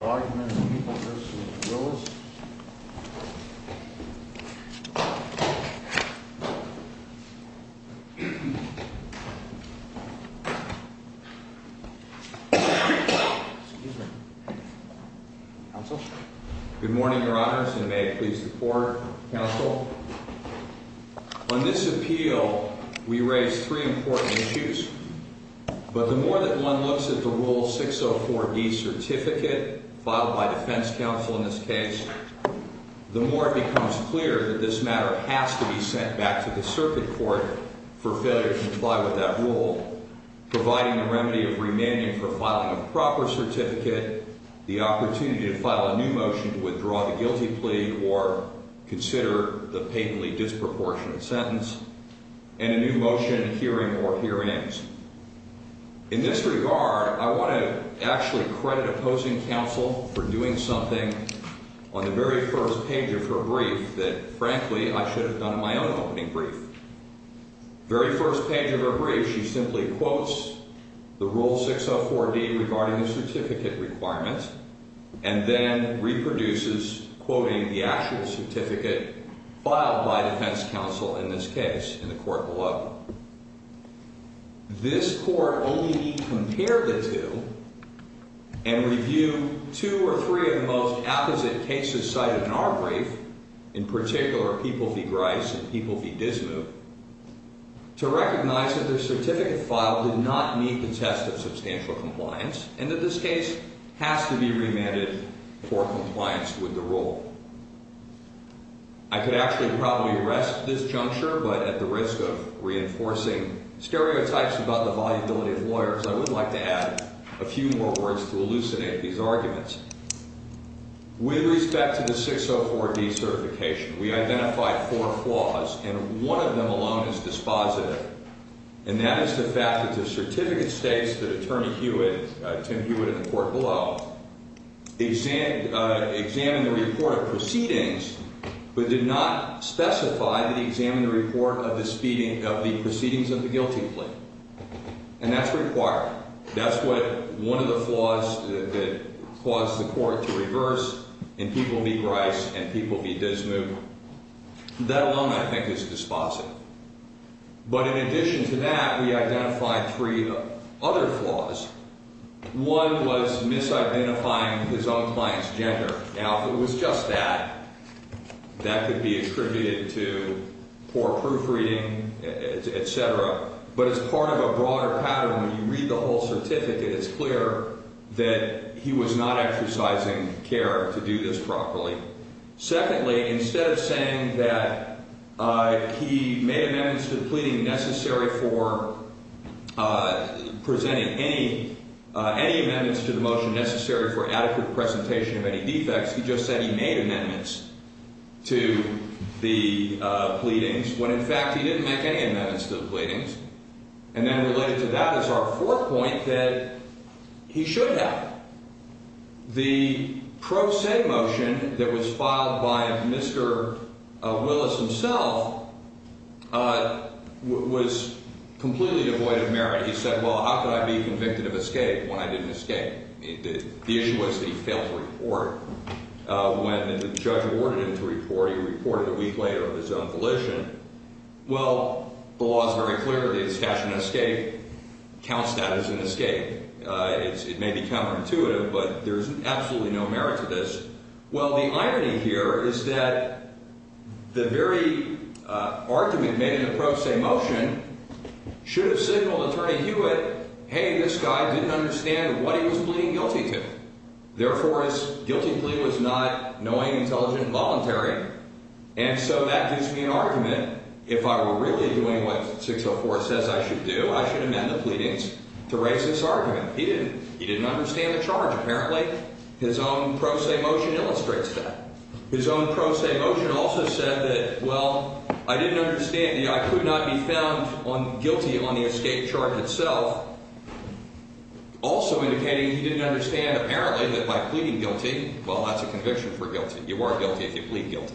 Good morning, Your Honors, and may it please the Court, Counsel. On this appeal, we raised three important issues, but the more that one looks at the Rule 604D certificate filed by defense counsel in this case, the more it becomes clear that this matter has to be sent back to the circuit court for failure to comply with that rule, providing the remedy of remaining for filing a proper certificate, the opportunity to file a new motion to withdraw the guilty plea or consider the patently disproportionate sentence, and a new motion hearing or hearings. In this regard, I want to actually credit opposing counsel for doing something on the very first page of her brief that, frankly, I should have done in my own opening brief. Very first page of her brief, she simply quotes the Rule 604D regarding the certificate requirements and then reproduces, quoting the actual certificate filed by defense counsel in this case in the court below. This Court only compared the two and reviewed two or three of the most apposite cases cited in our brief, in particular, People v. Grice and People v. Dismou, to recognize that the certificate file did not meet the test of the law, and that this case has to be remanded for compliance with the rule. I could actually probably rest this juncture, but at the risk of reinforcing stereotypes about the viability of lawyers, I would like to add a few more words to elucidate these arguments. With respect to the 604D certification, we identified four flaws, and one of them alone is dispositive, and that is the fact that the certificate states that Attorney Hewitt, Tim Hewitt in the court below, examined the report of proceedings, but did not specify that he examined the report of the proceedings of the guilty plea. And that's required. That's one of the flaws that caused the Court to reverse in People v. Grice and People v. Dismou. That alone, I think, is dispositive. But in addition to that, we identified three other flaws. One was misidentifying his own client's gender. Now, if it was just that, that could be attributed to poor proofreading, etc., but it's part of a broader pattern. When you read the whole certificate, it's clear that he was not exercising care to do this properly. Secondly, instead of saying that he made amendments to the pleading necessary for presenting any amendments to the motion necessary for adequate presentation of any defects, he just said he made amendments to the pleadings when, in fact, he didn't make any amendments to the pleadings. And then related to that is our fourth point that he should have. The pro se motion that was presented to the Court, where Willis himself was completely devoid of merit. He said, well, how could I be convicted of escape when I didn't escape? The issue was that he failed to report. When the judge awarded him to report, he reported a week later of his own volition. Well, the law is very clear that a statute of escape counts that as an escape. It may be counterintuitive, but there's absolutely no merit to this. Well, the irony here is that the very argument made in the pro se motion should have signaled Attorney Hewitt, hey, this guy didn't understand what he was pleading guilty to. Therefore, his guilty plea was not knowing, intelligent, and voluntary. And so that gives me an argument. If I were really doing what 604 says I should do, I should amend the pleadings to raise this argument. He didn't. He didn't understand the charge, apparently. His own pro se motion illustrates that. His own pro se motion also said that, well, I didn't understand. I could not be found guilty on the escape charge itself. Also indicating he didn't understand, apparently, that by pleading guilty, well, that's a conviction for guilty. You are guilty if you plead guilty.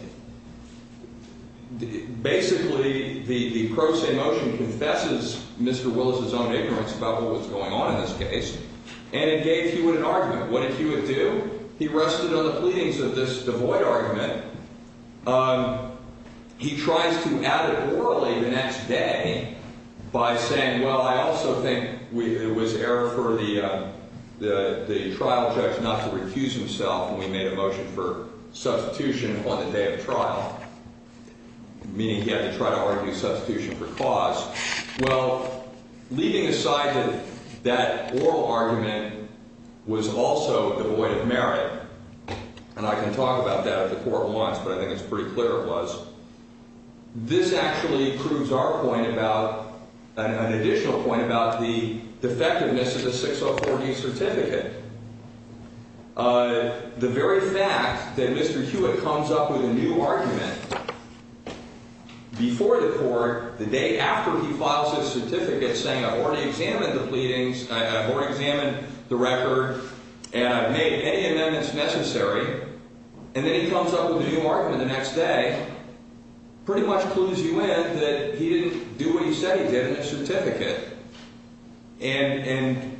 Basically, the pro se motion confesses Mr. Willis' own ignorance about what was going on in this case, and it gave Hewitt an argument. What did Hewitt do? He rested on the pleadings of this devoid argument. He tries to add it orally the next day by saying, well, I also think it was error for the trial judge not to recuse himself, and we made a motion for substitution on the day of trial, meaning he had to try to argue substitution for cause. Well, leaving aside that that oral argument was also devoid of merit, and I can talk about that at the court once, but I think it's pretty clear it was, this actually proves our point about, an additional point about the defectiveness of the 604D certificate. The very fact that when he files his certificate saying, I've already examined the pleadings, I've already examined the record, and I've made any amendments necessary, and then he comes up with a new argument the next day, pretty much clues you in that he didn't do what he said he did in his certificate, and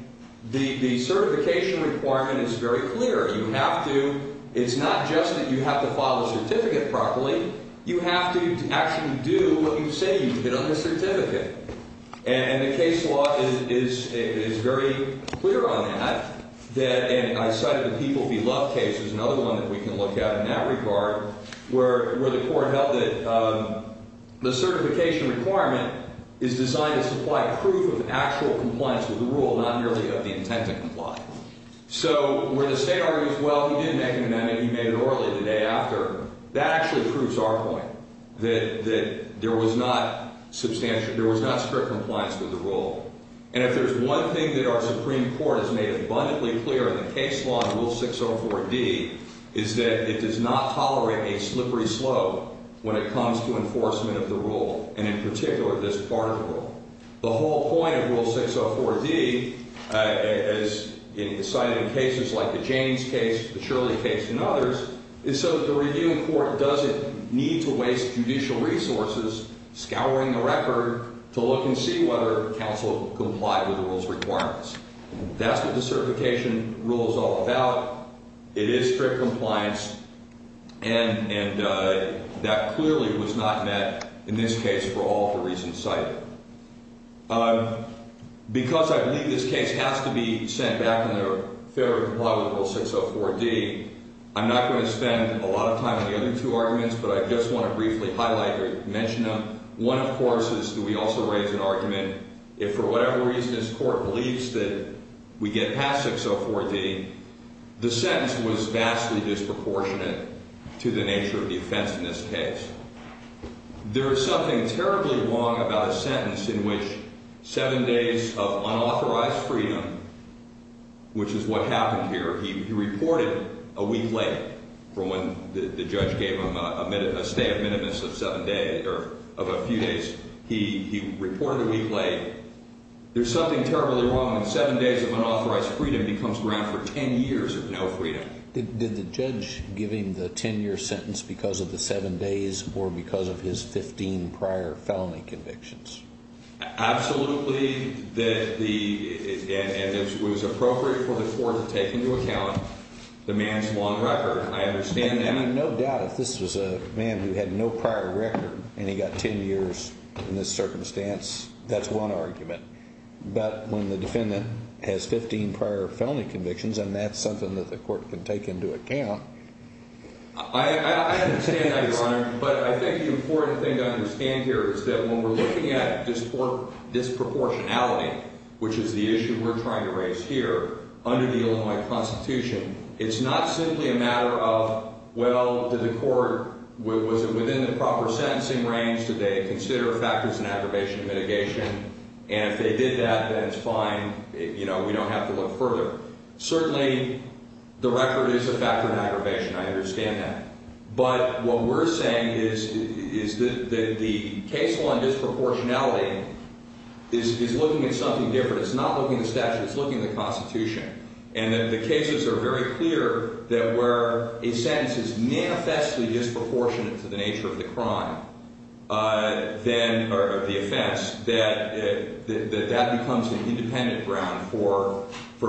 the certification requirement is very clear. You have to, it's not just that you have to file a certificate properly, you have to actually do what you say you did on the certificate, and the case law is very clear on that, and I cited the People v. Love case, there's another one that we can look at in that regard, where the court held that the certification requirement is designed to supply proof of actual compliance with the rule, not merely of the intent to comply. So where the state argues, well, he didn't make an amendment, he made it early the day after, that actually proves our point, that there was not strict compliance with the rule, and if there's one thing that our Supreme Court has made abundantly clear in the case law in Rule 604D, is that it does not tolerate a slippery slope when it comes to enforcement of the rule, and in particular, this particle rule. The whole point of Rule 604D, as cited in cases like the Jaynes case, the Shirley case, and others, is so that the review court doesn't need to waste judicial resources scouring the record to look and see whether counsel complied with the rule's requirements. That's what the certification rule is all about, it is strict compliance, and that clearly was not met in this case for all the reasons cited. Because I believe this case has to be sent back in their favor to comply with Rule 604D, I'm not going to spend a lot of time on the other two arguments, but I just want to briefly highlight or mention them. One, of course, is that we also raise an argument, if for whatever reason this court believes that we get past 604D, the sentence was vastly disproportionate to the nature of the offense in this case. There is something terribly wrong about a sentence in which seven days of unauthorized freedom, which is what happened here, he reported a week late from when the judge gave him a stay of a few days, he reported a week late. There's something terribly wrong when seven days of unauthorized freedom becomes ground for ten years of no freedom. Did the judge give him the ten-year sentence because of the seven days or because of his 15 prior felony convictions? Absolutely, and it was appropriate for the court to take into account the man's long record. I understand that. I mean, no doubt, if this was a man who had no prior record and he got ten years in this circumstance, that's one argument. But when the defendant has 15 prior felony convictions and that's something that the court can take into account... I understand that, Your Honor, but I think the important thing to understand here is that when we're looking at disproportionality, which is the issue we're trying to raise here under the Illinois Constitution, it's not simply a matter of, well, did the court, was it within the proper sentencing range? Did they consider factors in aggravation and mitigation? And if they did that, then it's fine. You know, we don't have to look further. Certainly, the record is a factor in aggravation. I understand that. But what we're saying is that the case law and disproportionality is looking at something different. It's not looking at statute. It's looking at the Constitution. And the cases are very clear that where a sentence is manifestly disproportionate to the nature of the crime, then, or the offense, that that becomes an independent ground for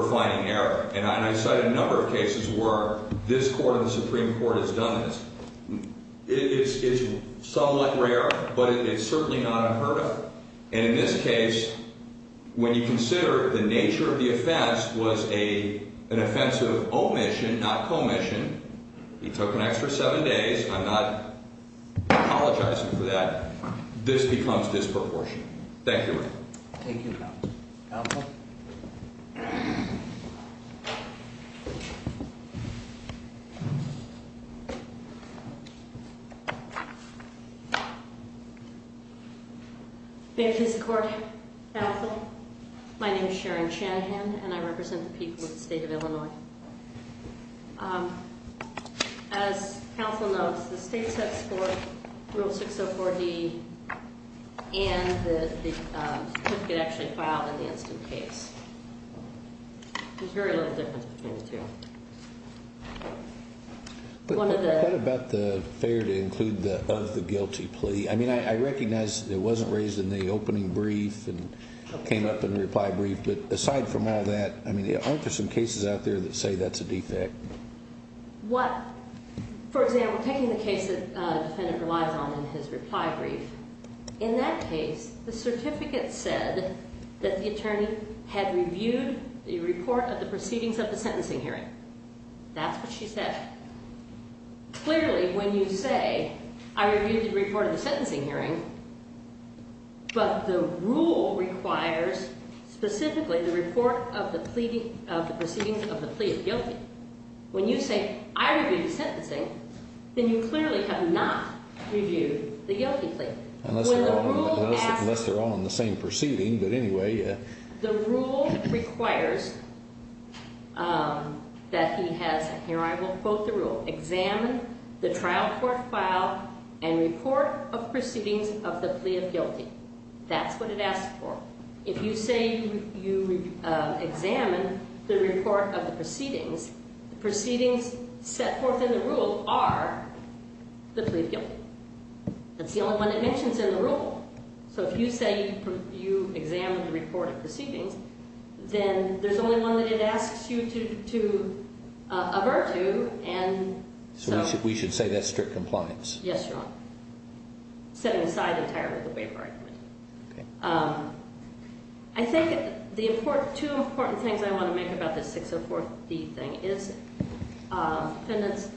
finding error. And I cite a number of cases where this Court of the Supreme Court has done this. It's somewhat rare, but it's certainly not unheard of. And in this case, when you consider the nature of the offense was an offensive omission, not commission, it took an extra seven days. I'm not apologizing for that. Thank you, Counsel. Thank you, Mr. Court. Counsel, my name is Sharon Shanahan, and I represent the people As Counsel notes, the state sets forth Rule 604-D and the certificate actually filed in the instant case. There's very little difference between the two. But what about the failure to include the of the guilty plea? I mean, I recognize it wasn't raised in the opening brief and came up in the reply brief. But aside from all that, I mean, aren't there some cases out there that say that's a defect? What, for example, taking the case that the defendant relies on in his reply brief, in that case, the certificate said that the attorney had reviewed the report of the proceedings of the sentencing hearing. That's what she said. Clearly, when you say, I reviewed the report of the sentencing hearing, but the rule requires specifically the report of the proceedings of the plea of guilty. When you say, I reviewed the sentencing, then you clearly have not reviewed the guilty plea. Unless they're all in the same proceeding, but anyway. The rule requires that he has, here I will quote the rule, examine the trial court file and report of proceedings of the plea of guilty. That's what it asks for. If you say you examined the report of the proceedings, the proceedings set forth in the rule are the plea of guilty. That's the only one it mentions in the rule. So if you say you examined the report of proceedings, then there's only one that it asks you to examine. We should say that's strict compliance. Yes, Your Honor. Setting aside entirely the waive argument. I think the two important things I want to make about this 604D thing is the defendant's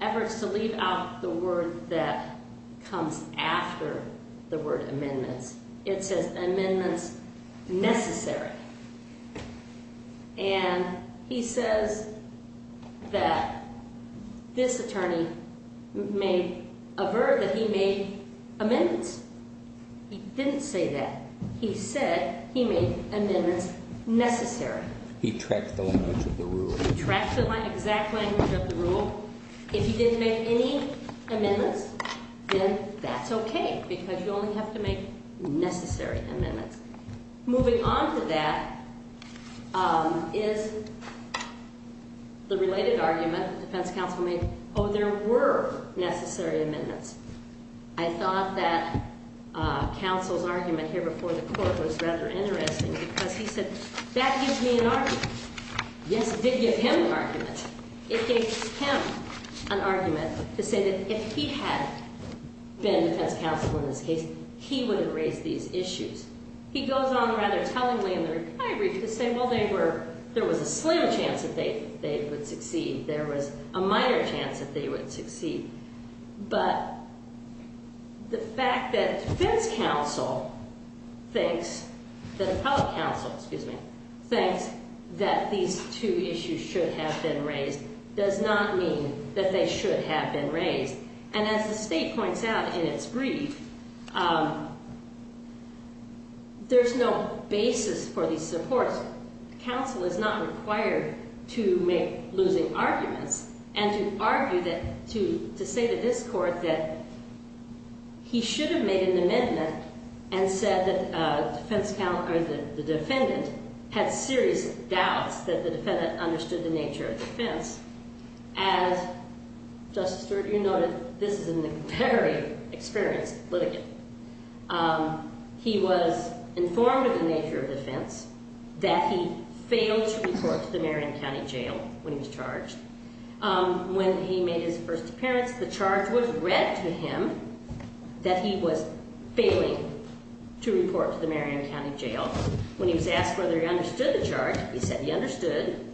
efforts to leave out the word that comes after the word amendments. It says amendments necessary. And he says that this attorney may avert that he made amendments. He didn't say that. He said he made amendments necessary. He tracked the language of the rule. He tracked the exact language of the rule. If he didn't make any necessary amendments. Moving on to that is the related argument the defense counsel made. Oh, there were necessary amendments. I thought that counsel's argument here before the court was rather interesting because he said that gives me an argument. Yes, it did give him an argument. It gave him an argument to say that if he had been defense counsel in this case, he wouldn't raise these issues. He goes on rather tellingly in the retiree to say, well, there was a slim chance that they would succeed. There was a minor chance that they would succeed. But the fact that defense counsel thinks, that the public counsel thinks that these two issues should have been raised does not mean that they should have been raised. And as the state points out in its brief, there's no basis for these supports. Counsel is not required to make losing arguments and to argue that, to say to this court that he should have made an amendment and said that the defendant had serious doubts that the defendant understood the nature of defense. As Justice Sturgeon noted, this is in the very experienced litigant. He was informed of the nature of defense that he failed to report to the Marion County Jail when he was charged. When he made his first appearance, the charge was read to him that he was failing to report to the Marion County Jail. When he was asked whether he understood the charge, he said he understood.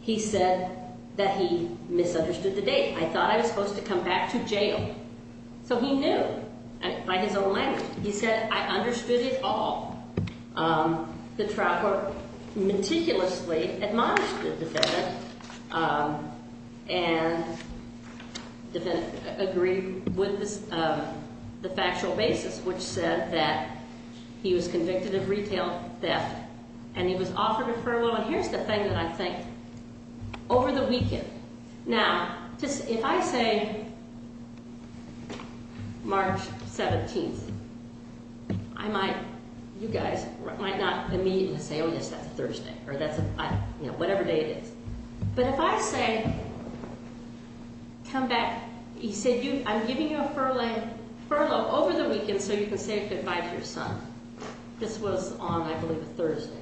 He said that he misunderstood the date. I thought I was supposed to come back to jail. So he knew by his own language. He said, I understood it all. The trial court meticulously admonished the defendant and the defendant agreed with the factual basis, which said that he was convicted of retail theft and he was offered a furlough. And here's the thing that I think, over the weekend, now, if I say March 17th, I might, you guys might not immediately say, oh yes, that's Thursday, or whatever day it is. But if I say, come back, he said, I'm giving you a furlough over the weekend so you can say goodbye to your son. This was on, I believe, a Thursday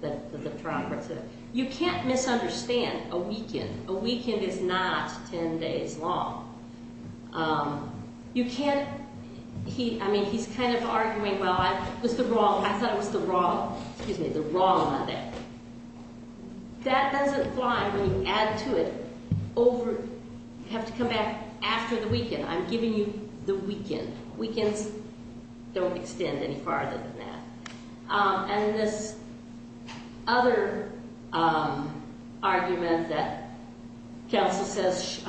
that the trial court said. You can't misunderstand a weekend. A weekend is not 10 days long. You can't, he, I mean, he's kind of arguing, well, I was the wrong, I thought it was the wrong, excuse me, the wrong of it. That doesn't apply when you add to it over, you have to come back after the weekend. I'm giving you the weekend. Weekends don't extend any farther than that. And this other argument that counsel says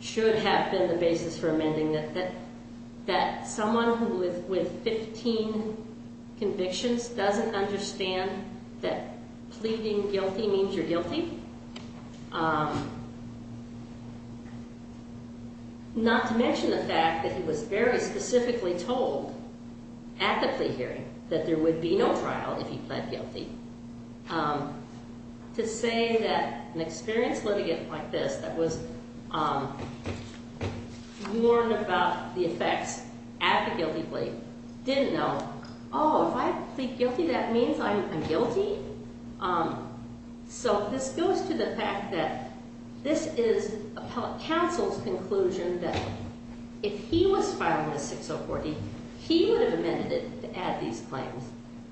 should have been the basis for amending it, that someone with 15 convictions doesn't understand that pleading guilty means you're not carrying, that there would be no trial if you pled guilty. To say that an experienced litigant like this that was warned about the effects at the guilty plea didn't know, oh, if I plead guilty, that means I'm guilty? So this goes to the fact that this is counsel's conclusion that if he was filed with 6040, he would have amended it to add these claims.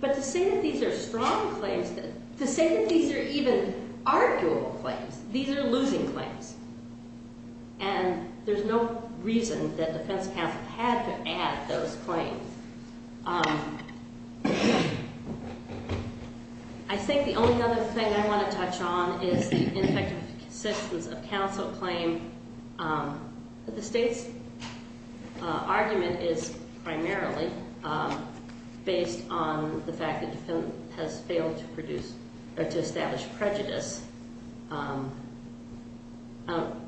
But to say that these are strong claims, to say that these are even arguable claims, these are losing claims. And there's no reason that defense counsel had to add those claims. I think the state's argument is primarily based on the fact that the defendant has failed to produce or to establish prejudice. I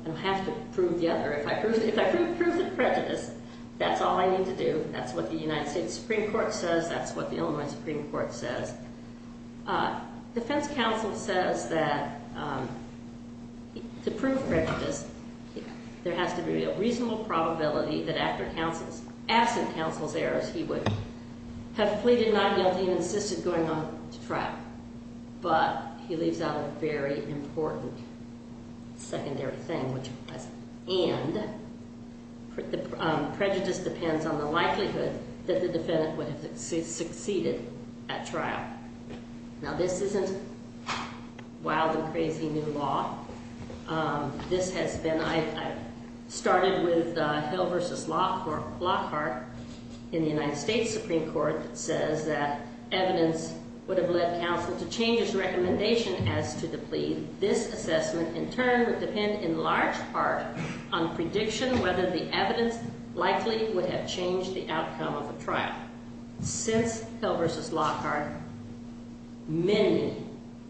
don't have to prove the other. If I prove the prejudice, that's all I need to do. That's what the United States Supreme Court says. That's what the Supreme Court says. That there has to be a reasonable probability that after absent counsel's errors, he would have pleaded not guilty and insisted going on to trial. But he leaves out a very important secondary thing, which was, and the prejudice depends on the likelihood that the defendant would have succeeded at trial. Now, this isn't wild and crazy new law. This has been, I started with Hill v. Lockhart in the United States Supreme Court that says that evidence would have led counsel to change his recommendation as to the plea. This assessment, in turn, would depend in large part on prediction whether the evidence likely would have changed the outcome of the trial. Since Hill v. Lockhart, many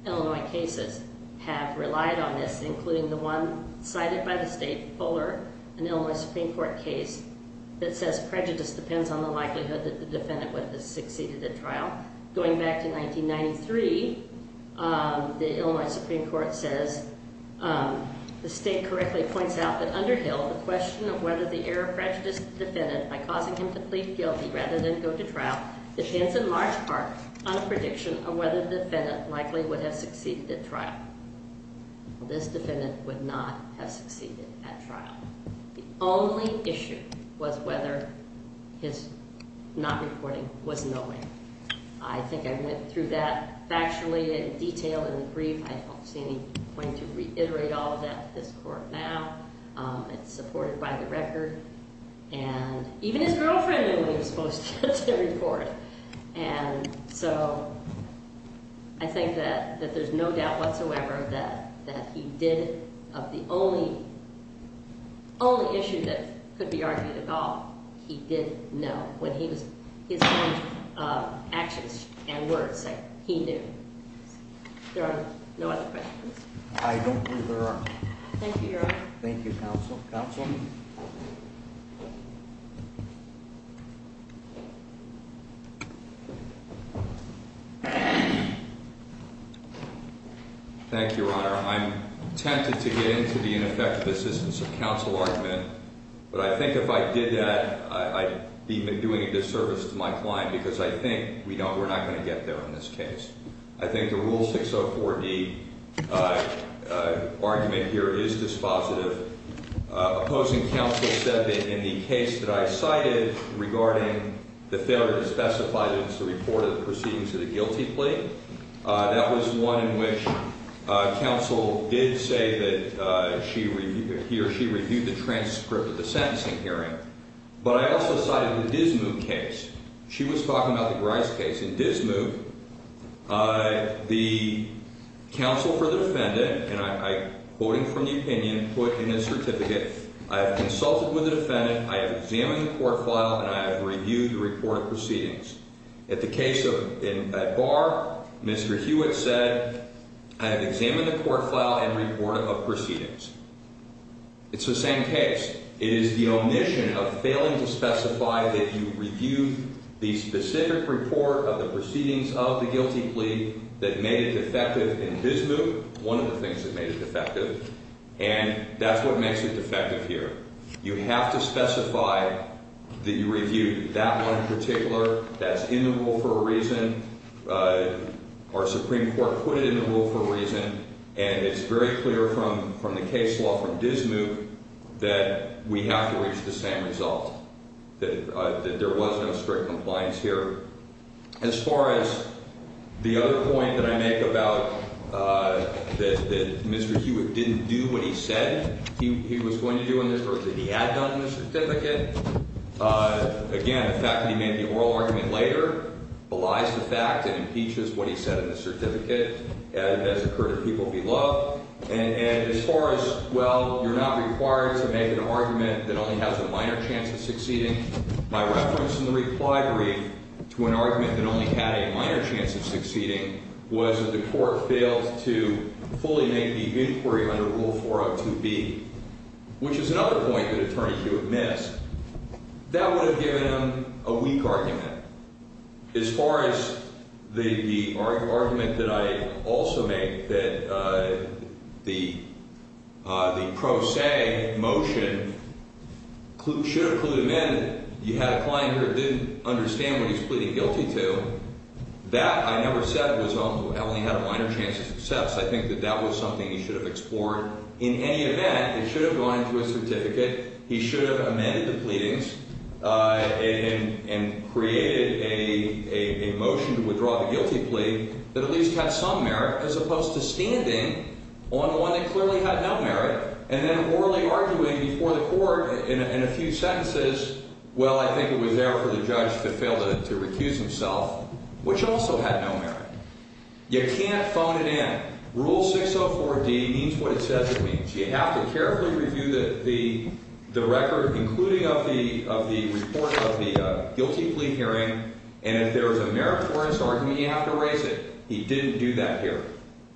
Illinois Supreme Court cases have relied on this, including the one cited by the state, Fuller, an Illinois Supreme Court case that says prejudice depends on the likelihood that the defendant would have succeeded at trial. Going back to 1993, the Illinois Supreme Court says, the state correctly points out that under Hill, the question of whether the error prejudiced the defendant by causing him to plead guilty rather than go to trial depends in large part on prediction of whether the defendant likely would have succeeded at trial. This defendant would not have succeeded at trial. The only issue was whether his not reporting was knowing. I think I went through that factually in detail in the brief. I don't see any point to reiterate all of that to this court now. It's supported by the record. And even his girlfriend in court. And so, I think that there's no doubt whatsoever that he did, of the only issue that could be argued at all, he did know. His actions and words, he knew. There are no other questions. I don't think there are. Thank you, Your Honor. Thank you, Counsel. Counsel? Thank you, Your Honor. I'm tempted to get into the ineffective assistance of counsel argument, but I think if I did that, I'd be doing a disservice to my client because I think we're not going to get there in this case. I think the Rule 604D argument here is dispositive. Opposing counsel said that in the case that I cited regarding the failure to specify that it's the report of the proceedings of the guilty plea, that was one in which counsel did say that he or she reviewed the transcript of the sentencing hearing. But I also cited the Dismukh case. She was talking about the Grice case. In Dismukh, the counsel for the defendant, and I, quoting from the opinion put in his certificate, I have consulted with the defendant, I have examined the court file, and I have reviewed the report of proceedings. At the case of Ed Barr, Mr. Hewitt said, I have examined the court file and report of proceedings. It's the same case. It is the omission of failing to specify that you reviewed the specific report of the proceedings of the guilty plea that made it defective in Dismukh, one of the things that made it defective, and that's what makes it defective here. You have to specify that you reviewed that one in particular, that's in the rule for a reason, or Supreme Court put it in the rule for a reason, and it's very clear from the case law from Dismukh that we have to reach the same result, that there was no strict compliance here. As far as the other point that I make about that Mr. Hewitt didn't do what he said he was going to do in this, or that he had done in the certificate, again, the fact that he made the oral argument later belies the fact that it impeaches what he said in the certificate, as occurred to people below, and as far as, well, you're not required to make an argument that only has a minor chance of succeeding, my reference in the plea brief to an argument that only had a minor chance of succeeding was that the court failed to fully make the inquiry under Rule 402B, which is another point that Attorney Hewitt missed. That would have given him a weak argument. As far as the argument that I also make that the pro se motion should have clued him in, you had a client who didn't understand what he's pleading guilty to, that I never said was only had a minor chance of success. I think that that was something he should have explored. In any event, it should have gone into a certificate. He should have amended the pleadings and created a motion to withdraw the guilty plea that at least had some merit, as opposed to standing on the one that clearly had no merit, and then orally arguing before the court in a few sentences, well, I think it was there for the judge to fail to recuse himself, which also had no merit. You can't phone it in. Rule 604D means what it says it means. You have to carefully review the record, including of the report of the guilty plea hearing, and if there is a meritorious argument, you have to raise it. He didn't do that here.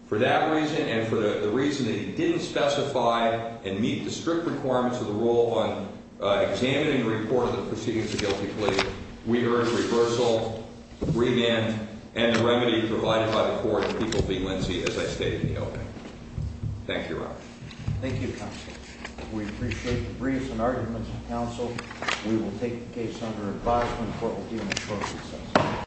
For that reason and for the reason that he didn't specify and meet the strict requirements of the rule on examining the report of the proceedings of the guilty plea, we heard reversal, remand, and the remedy provided by the court in People v. Lindsey as I stated in the opening. Thank you, Robert. Thank you, counsel. We appreciate the briefs and arguments of counsel. We will take the case under advisement. The court will deal with it shortly.